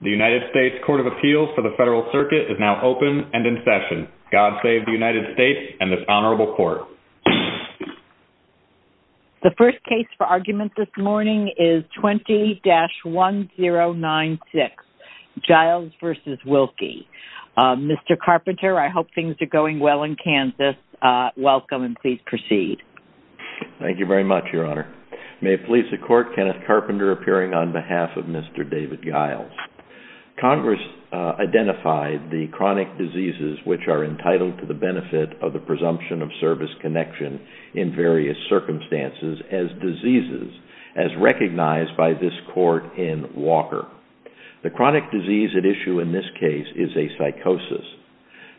The United States Court of Appeals for the Federal Circuit is now open and in session. God save the United States and this Honorable Court. The first case for argument this morning is 20-1096, Giles v. Wilkie. Mr. Carpenter, I hope things are going well in Kansas. Welcome and please proceed. Thank you very much, Your Honor. May it please the Court, Kenneth Carpenter appearing on behalf of Mr. David Giles. Congress identified the chronic diseases which are entitled to the benefit of the presumption of service connection in various circumstances as diseases as recognized by this Court in Walker. The chronic disease at issue in this case is a psychosis.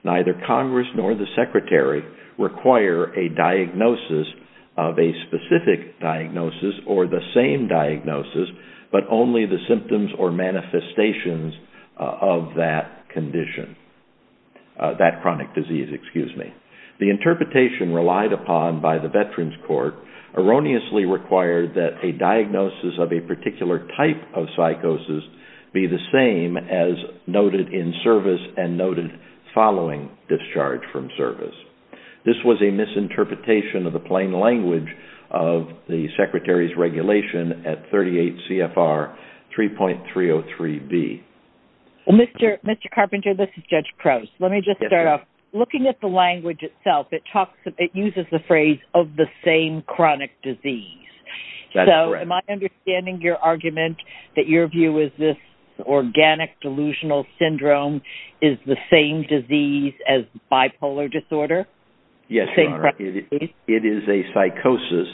Neither Congress nor the Secretary require a diagnosis of a specific diagnosis or the same diagnosis but only the symptoms or manifestations of that chronic disease. The interpretation relied upon by the Veterans Court erroneously required that a diagnosis of a particular type of psychosis be the same as noted in service and noted following discharge from service. This was a misinterpretation of the plain language of the Secretary's regulation at 38 CFR 3.303B. Mr. Carpenter, this is Judge Crouse. Let me just start off. Looking at the language itself, it uses the phrase of the same chronic disease. Am I understanding your argument that your view is this organic delusional syndrome is the same disease as bipolar disorder? Yes, Your Honor. It is a psychosis.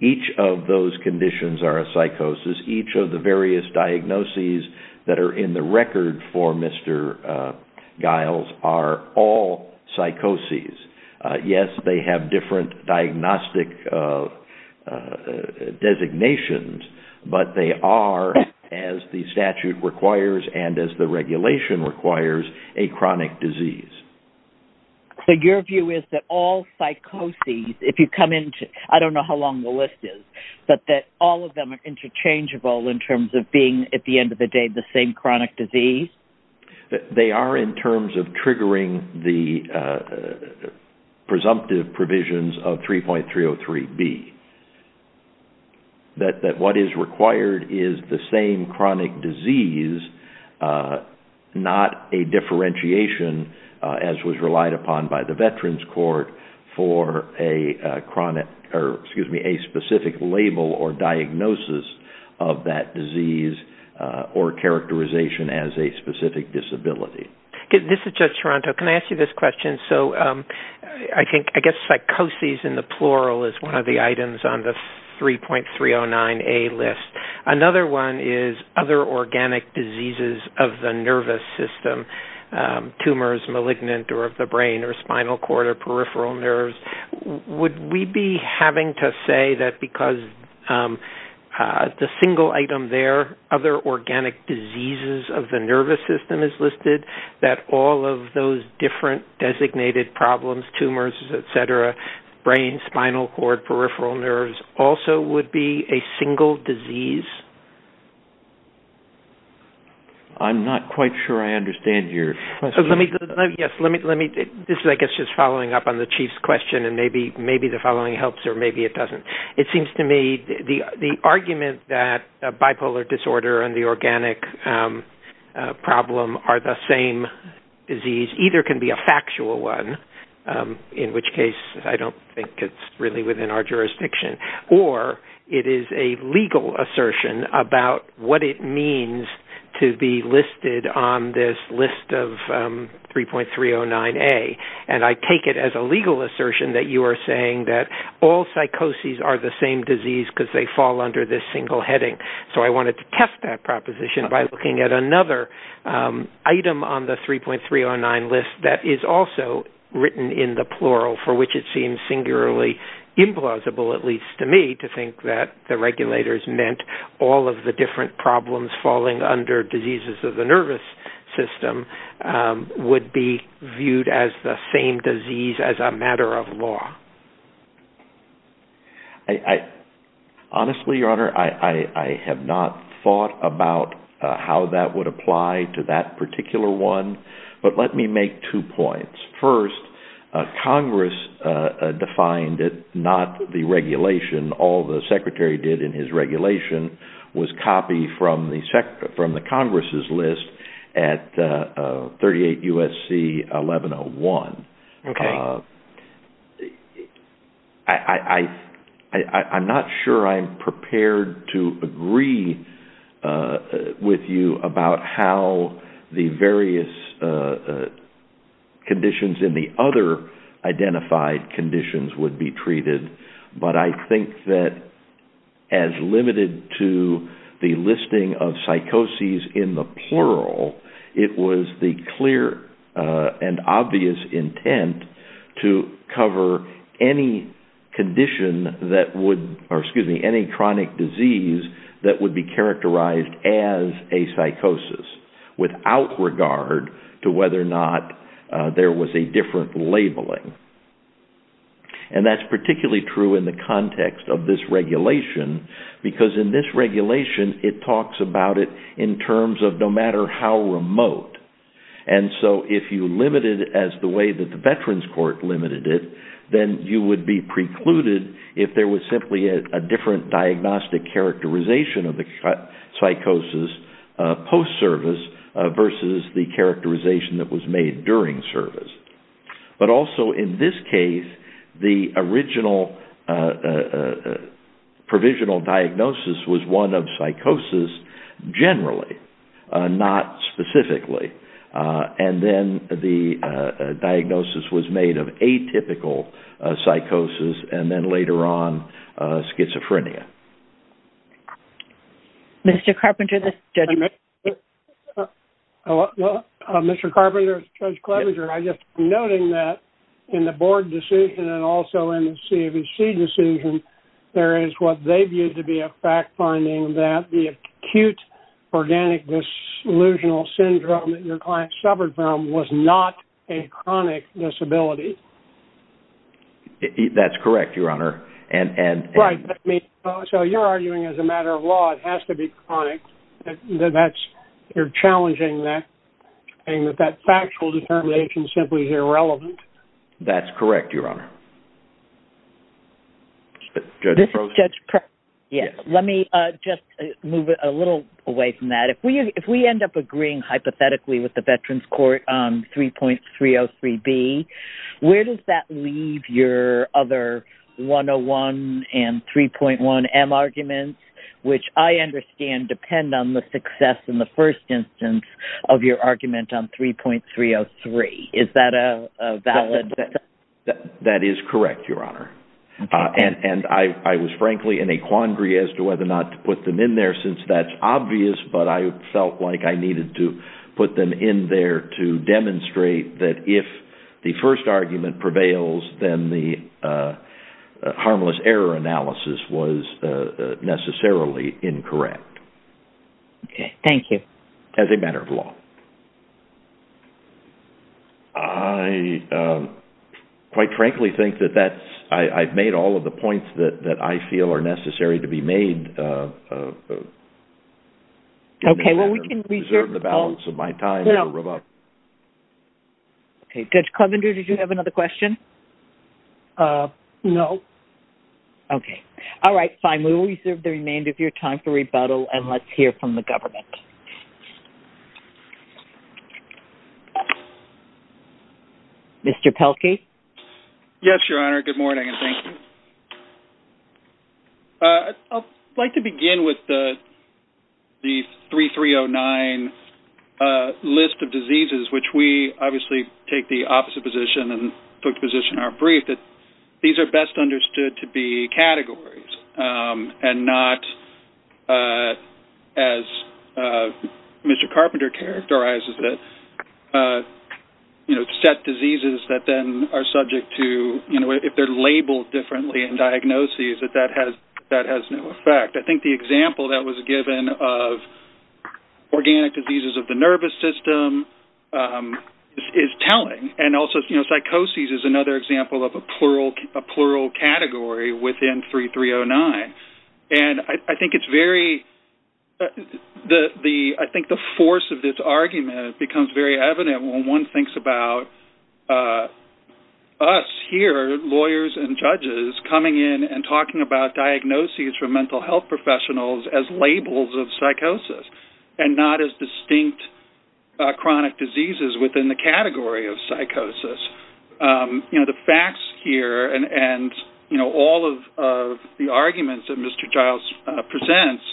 Each of those conditions are a psychosis. Each of the various diagnoses that are in the record for Mr. Giles are all psychoses. Yes, they have different diagnostic designations, but they are, as the statute requires and as the regulation requires, a chronic disease. So your view is that all psychoses, if you come into it, I don't know how long the list is, but that all of them are interchangeable in terms of being, at the end of the day, the same chronic disease? They are in terms of triggering the presumptive provisions of 3.303B. That what is required is the same chronic disease, not a differentiation, as was relied upon by the Veterans Court, for a specific label or diagnosis of that disease or characterization as a specific disability. This is Judge Toronto. Can I ask you this question? I guess psychoses in the plural is one of the items on the 3.309A list. Another one is other organic diseases of the nervous system. Tumors, malignant or of the brain or spinal cord or peripheral nerves. Would we be having to say that because the single item there, other organic diseases of the nervous system is listed, that all of those different designated problems, tumors, et cetera, brain, spinal cord, peripheral nerves, also would be a single disease? I'm not quite sure I understand your question. This is, I guess, just following up on the Chief's question, and maybe the following helps or maybe it doesn't. It seems to me the argument that bipolar disorder and the organic problem are the same disease either can be a factual one, in which case I don't think it's really within our jurisdiction, or it is a legal assertion about what it means to be listed on this list of 3.309A. And I take it as a legal assertion that you are saying that all psychoses are the same disease because they fall under this single heading. So I wanted to test that proposition by looking at another item on the 3.309 list that is also written in the plural, for which it seems singularly implausible, at least to me, to think that the regulators meant all of the different problems falling under diseases of the nervous system would be viewed as the same disease as a matter of law. Honestly, Your Honor, I have not thought about how that would apply to that particular one, but let me make two points. First, Congress defined it, not the regulation. All the Secretary did in his regulation was copy from the Congress' list at 38 U.S.C. 1101. I'm not sure I'm prepared to agree with you about how the various conditions in the other identified conditions would be treated, but I think that as limited to the listing of psychoses in the plural, it was the clear and obvious intent to cover any condition that would, or excuse me, any chronic disease that would be characterized as a psychosis without regard to whether or not there was a different labeling. And that's particularly true in the context of this regulation because in this regulation, it talks about it in terms of no matter how remote. And so if you limit it as the way that the Veterans Court limited it, then you would be precluded if there was simply a different diagnostic characterization of the psychosis post-service versus the characterization that was made during service. But also in this case, the original provisional diagnosis was one of psychosis generally, not specifically, and then the diagnosis was made of atypical psychosis and then later on schizophrenia. Mr. Carpenter, this is Judge Clabinger. Mr. Carpenter, this is Judge Clabinger. I'm just noting that in the board decision and also in the CAVC decision, there is what they viewed to be a fact-finding that the acute organic disillusional syndrome that your client suffered from was not a chronic disability. That's correct, Your Honor. So you're arguing as a matter of law, it has to be chronic. You're challenging that, saying that that factual determination simply is irrelevant. That's correct, Your Honor. Judge Prozen. Yes, let me just move a little away from that. If we end up agreeing hypothetically with the Veterans Court on 3.303B, where does that leave your other 101 and 3.1M arguments, which I understand depend on the success in the first instance of your argument on 3.303? Is that a valid assumption? That is correct, Your Honor. And I was frankly in a quandary as to whether or not to put them in there since that's obvious, but I felt like I needed to put them in there to demonstrate that if the first argument prevails, then the harmless error analysis was necessarily incorrect. Okay, thank you. As a matter of law. I quite frankly think that I've made all of the points that I feel are necessary to be made. Okay, well we can reserve the balance of my time. Okay, Judge Clevender, did you have another question? No. Okay. All right, fine. We will reserve the remainder of your time for rebuttal and let's hear from the government. Mr. Pelkey. Yes, Your Honor. Good morning and thank you. I'd like to begin with the 3309 list of diseases, which we obviously take the opposite position and took the position in our brief that these are best understood to be categories and not as Mr. Carpenter characterizes it, you know, set diseases that then are subject to, you know, if they're labeled differently in diagnoses, that that has no effect. I think the example that was given of organic diseases of the nervous system is telling. And also, you know, psychosis is another example of a plural category within 3309. And I think it's very, I think the force of this argument becomes very evident when one thinks about us here, lawyers and judges, coming in and talking about diagnoses for mental health professionals as labels of psychosis and not as distinct chronic diseases within the category of psychosis. You know, the facts here and, you know, all of the arguments that Mr. Giles presents,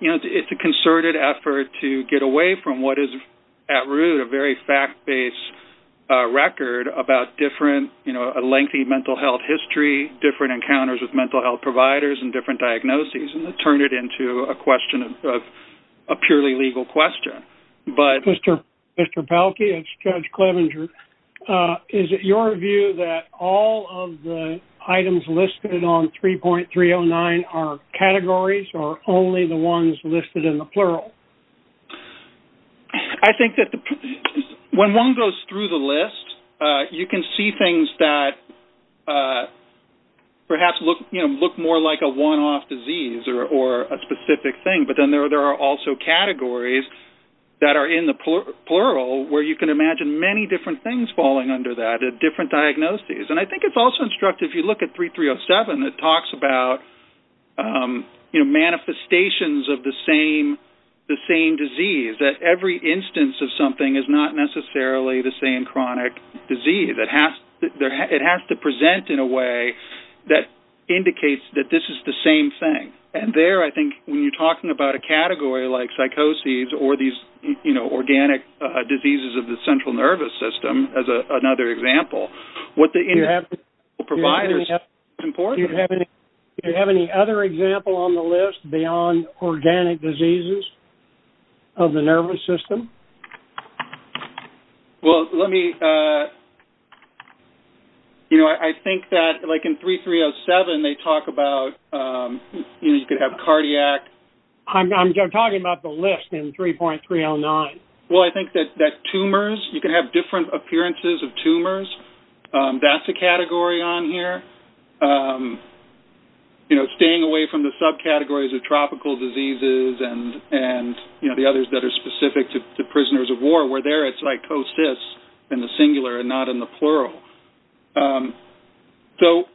you know, it's a concerted effort to get away from what is at root a very fact-based record about different, you know, a lengthy mental health history, different encounters with mental health providers and different diagnoses and to turn it into a question of a purely legal question. Mr. Pelkey, it's Judge Clevenger. Is it your view that all of the items listed on 3.309 are categories or only the ones listed in the plural? I think that when one goes through the list, you can see things that perhaps look, you know, look more like a one-off disease or a specific thing. But then there are also categories that are in the plural where you can imagine many different things falling under that, different diagnoses. And I think it's also instructive if you look at 3.307 that talks about, you know, manifestations of the same disease, that every instance of something is not necessarily the same chronic disease. It has to present in a way that indicates that this is the same thing. And there, I think, when you're talking about a category like psychoses or these, you know, organic diseases of the central nervous system as another example, what the individual providers... Do you have any other example on the list beyond organic diseases of the nervous system? Well, let me... You know, I think that, like, in 3.307, they talk about, you know, you could have cardiac... I'm talking about the list in 3.309. Well, I think that tumors-you can have different appearances of tumors. That's a category on here. You know, staying away from the subcategories of tropical diseases and, you know, the others that are specific to prisoners of war, where there it's psychoses in the singular and not in the plural. So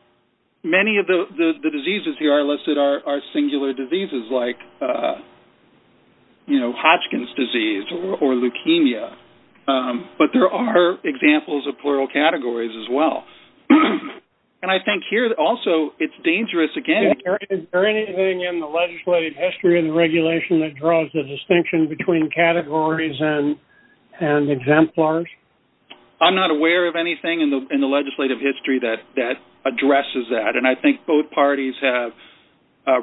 many of the diseases here I listed are singular diseases like, you know, Hodgkin's disease or leukemia. But there are examples of plural categories as well. And I think here, also, it's dangerous, again... Is there anything in the legislative history of the regulation that draws the distinction between categories and exemplars? I'm not aware of anything in the legislative history that addresses that. And I think both parties have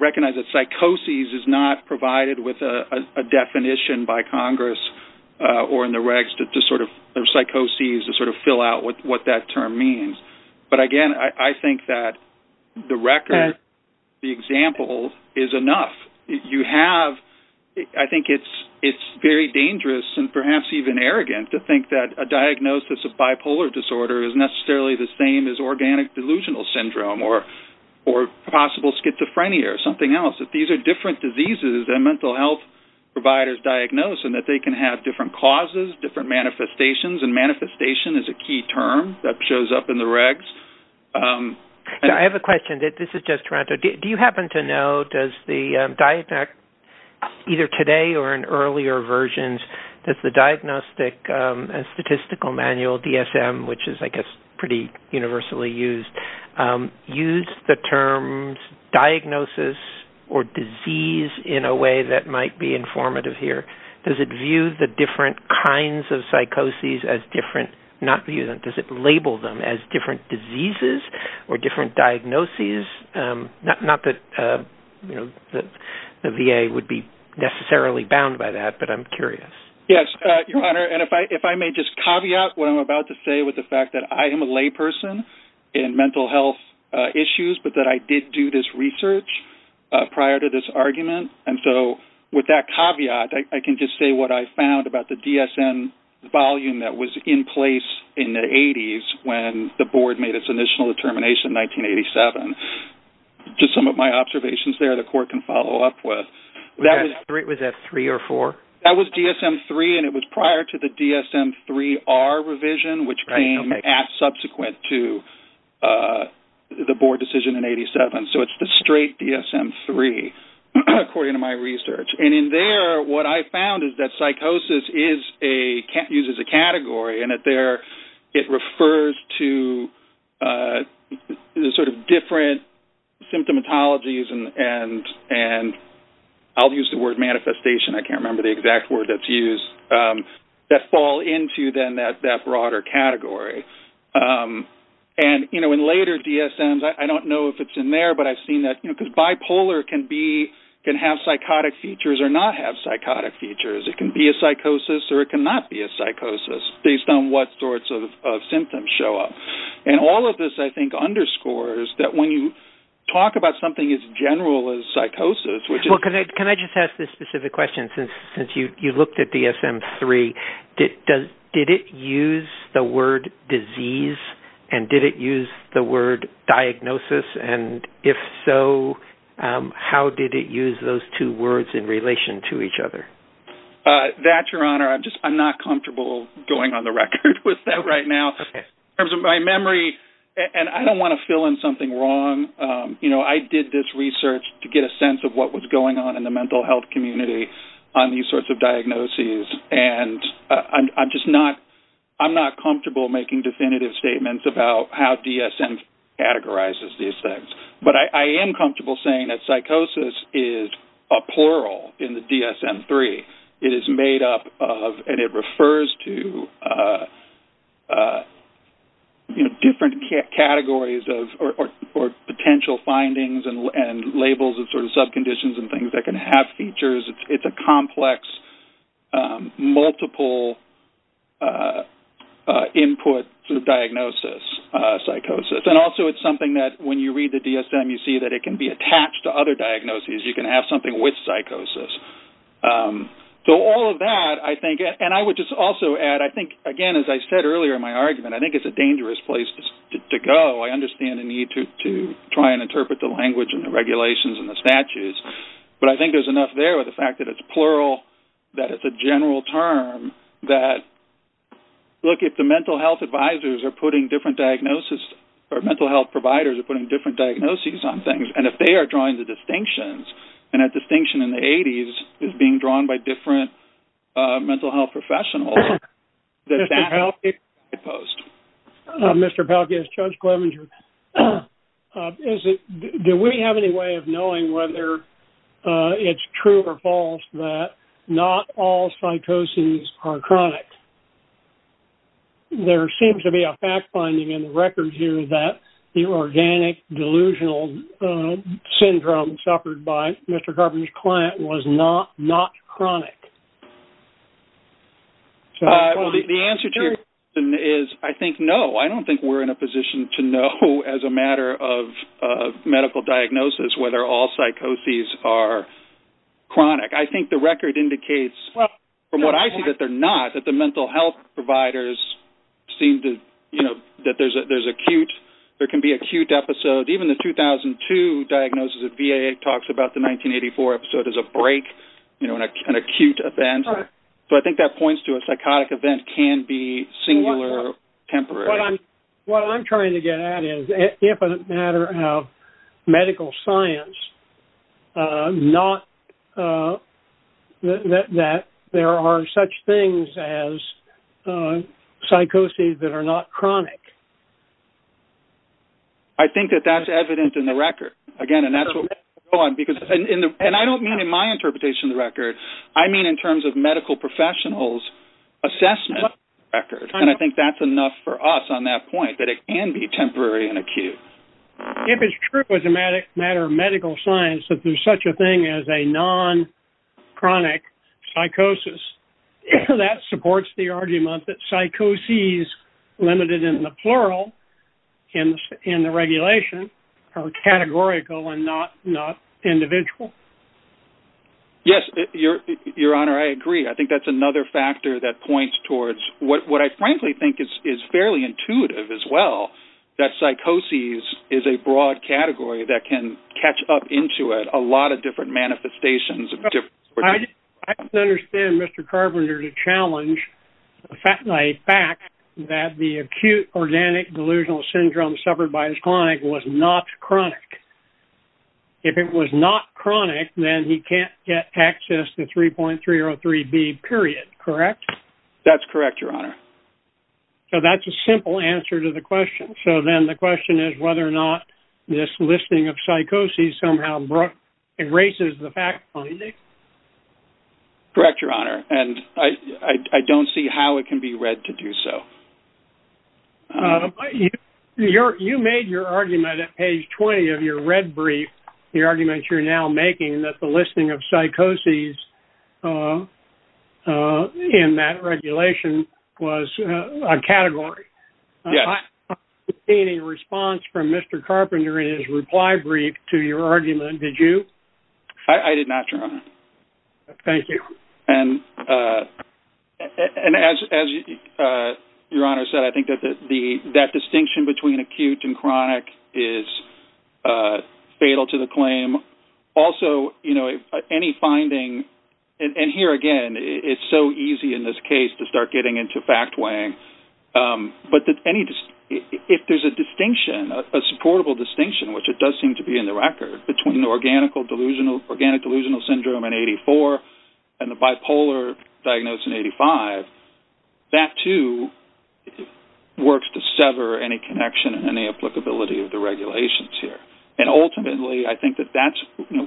recognized that psychoses is not provided with a definition by Congress or in the regs to sort of-or psychoses to sort of fill out what that term means. But, again, I think that the record, the example is enough. You have-I think it's very dangerous and perhaps even arrogant to think that a diagnosis of bipolar disorder is necessarily the same as organic delusional syndrome or possible schizophrenia or something else. These are different diseases that mental health providers diagnose and that they can have different causes, different manifestations, and manifestation is a key term that shows up in the regs. I have a question. This is just Toronto. Do you happen to know, does the-either today or in earlier versions, does the Diagnostic and Statistical Manual, DSM, which is, I guess, pretty universally used, use the terms diagnosis or disease in a way that might be informative here? Does it view the different kinds of psychoses as different-not view them, does it label them as different diseases or different diagnoses? Not that the VA would be necessarily bound by that, but I'm curious. Yes, Your Honor. And if I may just caveat what I'm about to say with the fact that I am a layperson in mental health issues, and so with that caveat, I can just say what I found about the DSM volume that was in place in the 80s when the board made its initial determination in 1987. Just some of my observations there the court can follow up with. Was that three or four? That was DSM-III, and it was prior to the DSM-III-R revision, which came subsequent to the board decision in 87. So it's the straight DSM-III, according to my research. And in there, what I found is that psychosis uses a category, and it refers to the sort of different symptomatologies and-I'll use the word manifestation, I can't remember the exact word that's used-that fall into, then, that broader category. And in later DSMs, I don't know if it's in there, but I've seen that, because bipolar can have psychotic features or not have psychotic features. It can be a psychosis or it cannot be a psychosis based on what sorts of symptoms show up. And all of this, I think, underscores that when you talk about something as general as psychosis, which is- Well, can I just ask this specific question? Since you looked at DSM-III, did it use the word disease, and did it use the word diagnosis? And if so, how did it use those two words in relation to each other? That, Your Honor, I'm not comfortable going on the record with that right now. In terms of my memory-and I don't want to fill in something wrong. I did this research to get a sense of what was going on in the mental health community on these sorts of diagnoses, and I'm just not comfortable making definitive statements about how DSM categorizes these things. But I am comfortable saying that psychosis is a plural in the DSM-III. It is made up of-and it refers to different categories or potential findings and labels and sort of subconditions and things that can have features. It's a complex, multiple-input diagnosis, psychosis. And also, it's something that when you read the DSM, you see that it can be attached to other diagnoses. You can have something with psychosis. So all of that, I think-and I would just also add, I think, again, as I said earlier in my argument, I think it's a dangerous place to go. I understand the need to try and interpret the language and the regulations and the statutes, but I think there's enough there with the fact that it's plural, that it's a general term, that, look, if the mental health advisors are putting different diagnosis-or mental health providers are putting different diagnoses on things, and if they are drawing the distinctions, and that distinction in the 80s is being drawn by different mental health professionals, does that make it opposed? Mr. Pelkey, it's Judge Clemenger. Do we have any way of knowing whether it's true or false that not all psychosis are chronic? There seems to be a fact finding in the records here that the organic delusional syndrome suffered by Mr. Carpenter's client was not chronic. The answer to your question is I think no. I don't think we're in a position to know as a matter of medical diagnosis whether all psychosis are chronic. I think the record indicates, from what I see, that they're not, that the mental health providers seem to-that there's acute-there can be acute episodes. Even the 2002 diagnosis of VA talks about the 1984 episode as a break, an acute event. So I think that points to a psychotic event can be singular, temporary. What I'm trying to get at is, if a matter of medical science, not that there are such things as psychosis that are not chronic. I think that that's evident in the record. Again, and that's what-and I don't mean in my interpretation of the record. I mean in terms of medical professionals' assessment of the record, and I think that's enough for us on that point, that it can be temporary and acute. If it's true as a matter of medical science that there's such a thing as a non-chronic psychosis, that supports the argument that psychoses, limited in the plural in the regulation, are categorical and not individual. Yes, Your Honor, I agree. I think that's another factor that points towards what I frankly think is fairly intuitive as well, that psychoses is a broad category that can catch up into it a lot of different manifestations. I don't understand Mr. Carpenter to challenge the fact that the acute organic delusional syndrome suffered by his client was not chronic. If it was not chronic, then he can't get access to 3.303B, period, correct? That's correct, Your Honor. So that's a simple answer to the question. So then the question is whether or not this listing of psychoses somehow erases the fact finding? Correct, Your Honor, and I don't see how it can be read to do so. You made your argument at page 20 of your red brief, the argument you're now making that the listing of psychoses in that regulation was a category. Yes. I didn't see any response from Mr. Carpenter in his reply brief to your argument, did you? I did not, Your Honor. Thank you. And as Your Honor said, I think that that distinction between acute and chronic is fatal to the claim. Also, any finding, and here again, it's so easy in this case to start getting into fact weighing, but if there's a distinction, a supportable distinction, which it does seem to be in the record, between the organic delusional syndrome in 84 and the bipolar diagnosis in 85, that, too, works to sever any connection and any applicability of the regulations here. And ultimately, I think that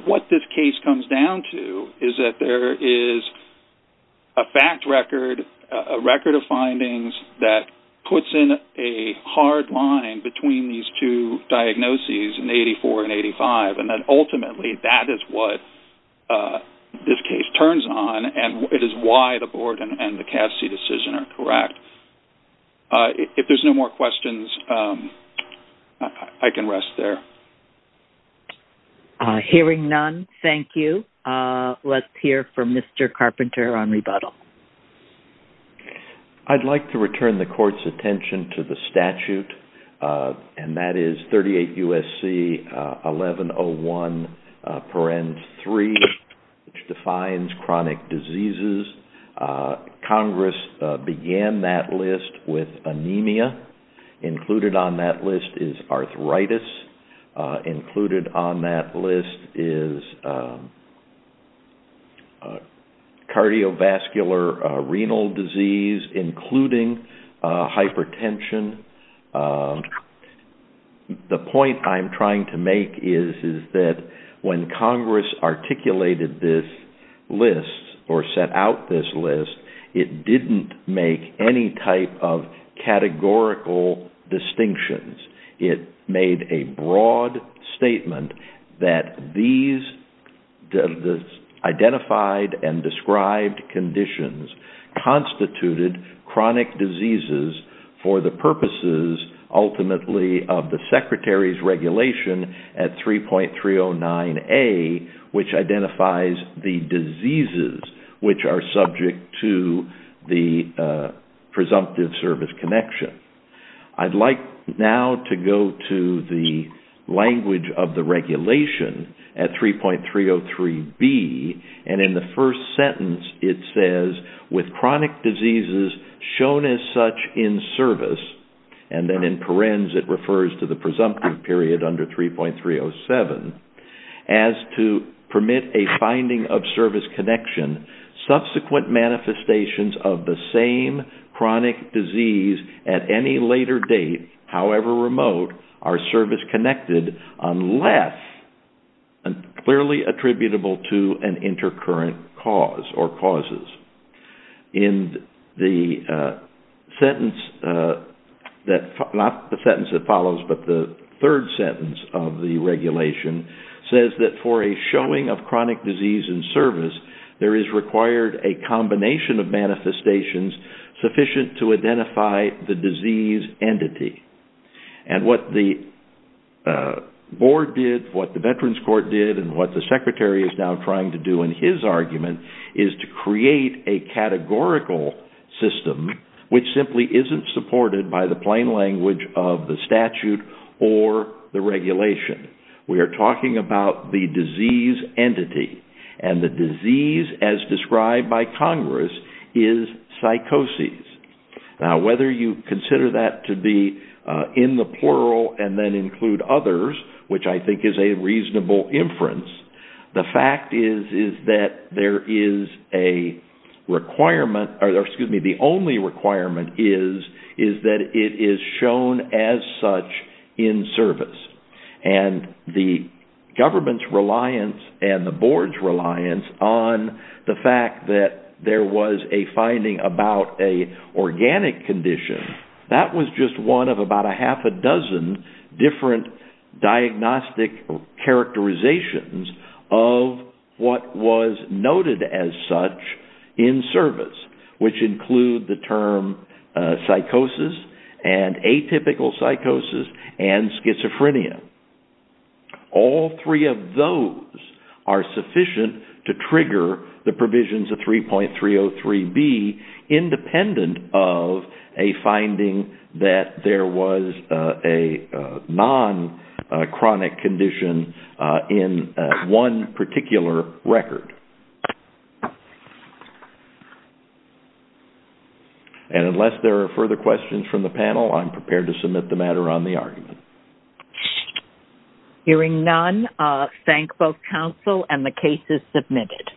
what this case comes down to is that there is a fact record, a record of findings that puts in a hard line between these two diagnoses in 84 and 85, and that ultimately that is what this case turns on, and it is why the board and the CASC decision are correct. If there's no more questions, I can rest there. Hearing none, thank you. Let's hear from Mr. Carpenter on rebuttal. I'd like to return the court's attention to the statute, and that is 38 U.S.C. 1101.3, which defines chronic diseases. Congress began that list with anemia. Included on that list is arthritis. Included on that list is cardiovascular renal disease, including hypertension. The point I'm trying to make is that when Congress articulated this list or set out this list, it didn't make any type of categorical distinctions. It made a broad statement that these identified and described conditions constituted chronic diseases for the purposes ultimately of the Secretary's regulation at 3.309A, which identifies the diseases which are subject to the presumptive service connection. I'd like now to go to the language of the regulation at 3.303B. In the first sentence, it says, with chronic diseases shown as such in service, and then in parens it refers to the presumptive period under 3.307, as to permit a finding of service connection, subsequent manifestations of the same chronic disease at any later date, however remote, are service connected, unless clearly attributable to an intercurrent cause or causes. In the sentence that follows, but the third sentence of the regulation, says that for a showing of chronic disease in service, there is required a combination of manifestations sufficient to identify the disease entity. What the board did, what the Veterans Court did, and what the Secretary is now trying to do in his argument is to create a categorical system which simply isn't supported by the plain language of the statute or the regulation. We are talking about the disease entity, and the disease as described by Congress is psychosis. Now, whether you consider that to be in the plural and then include others, which I think is a reasonable inference, the fact is that there is a requirement, or excuse me, the only requirement is that it is shown as such in service. The government's reliance and the board's reliance on the fact that there was a finding about an organic condition, that was just one of about a half a dozen different diagnostic characterizations of what was noted as such in service, which include the term psychosis and atypical psychosis and schizophrenia. All three of those are sufficient to trigger the provisions of 3.303B, independent of a finding that there was a non-chronic condition in one particular record. And unless there are further questions from the panel, I'm prepared to submit the matter on the argument. Hearing none, I thank both counsel and the case is submitted.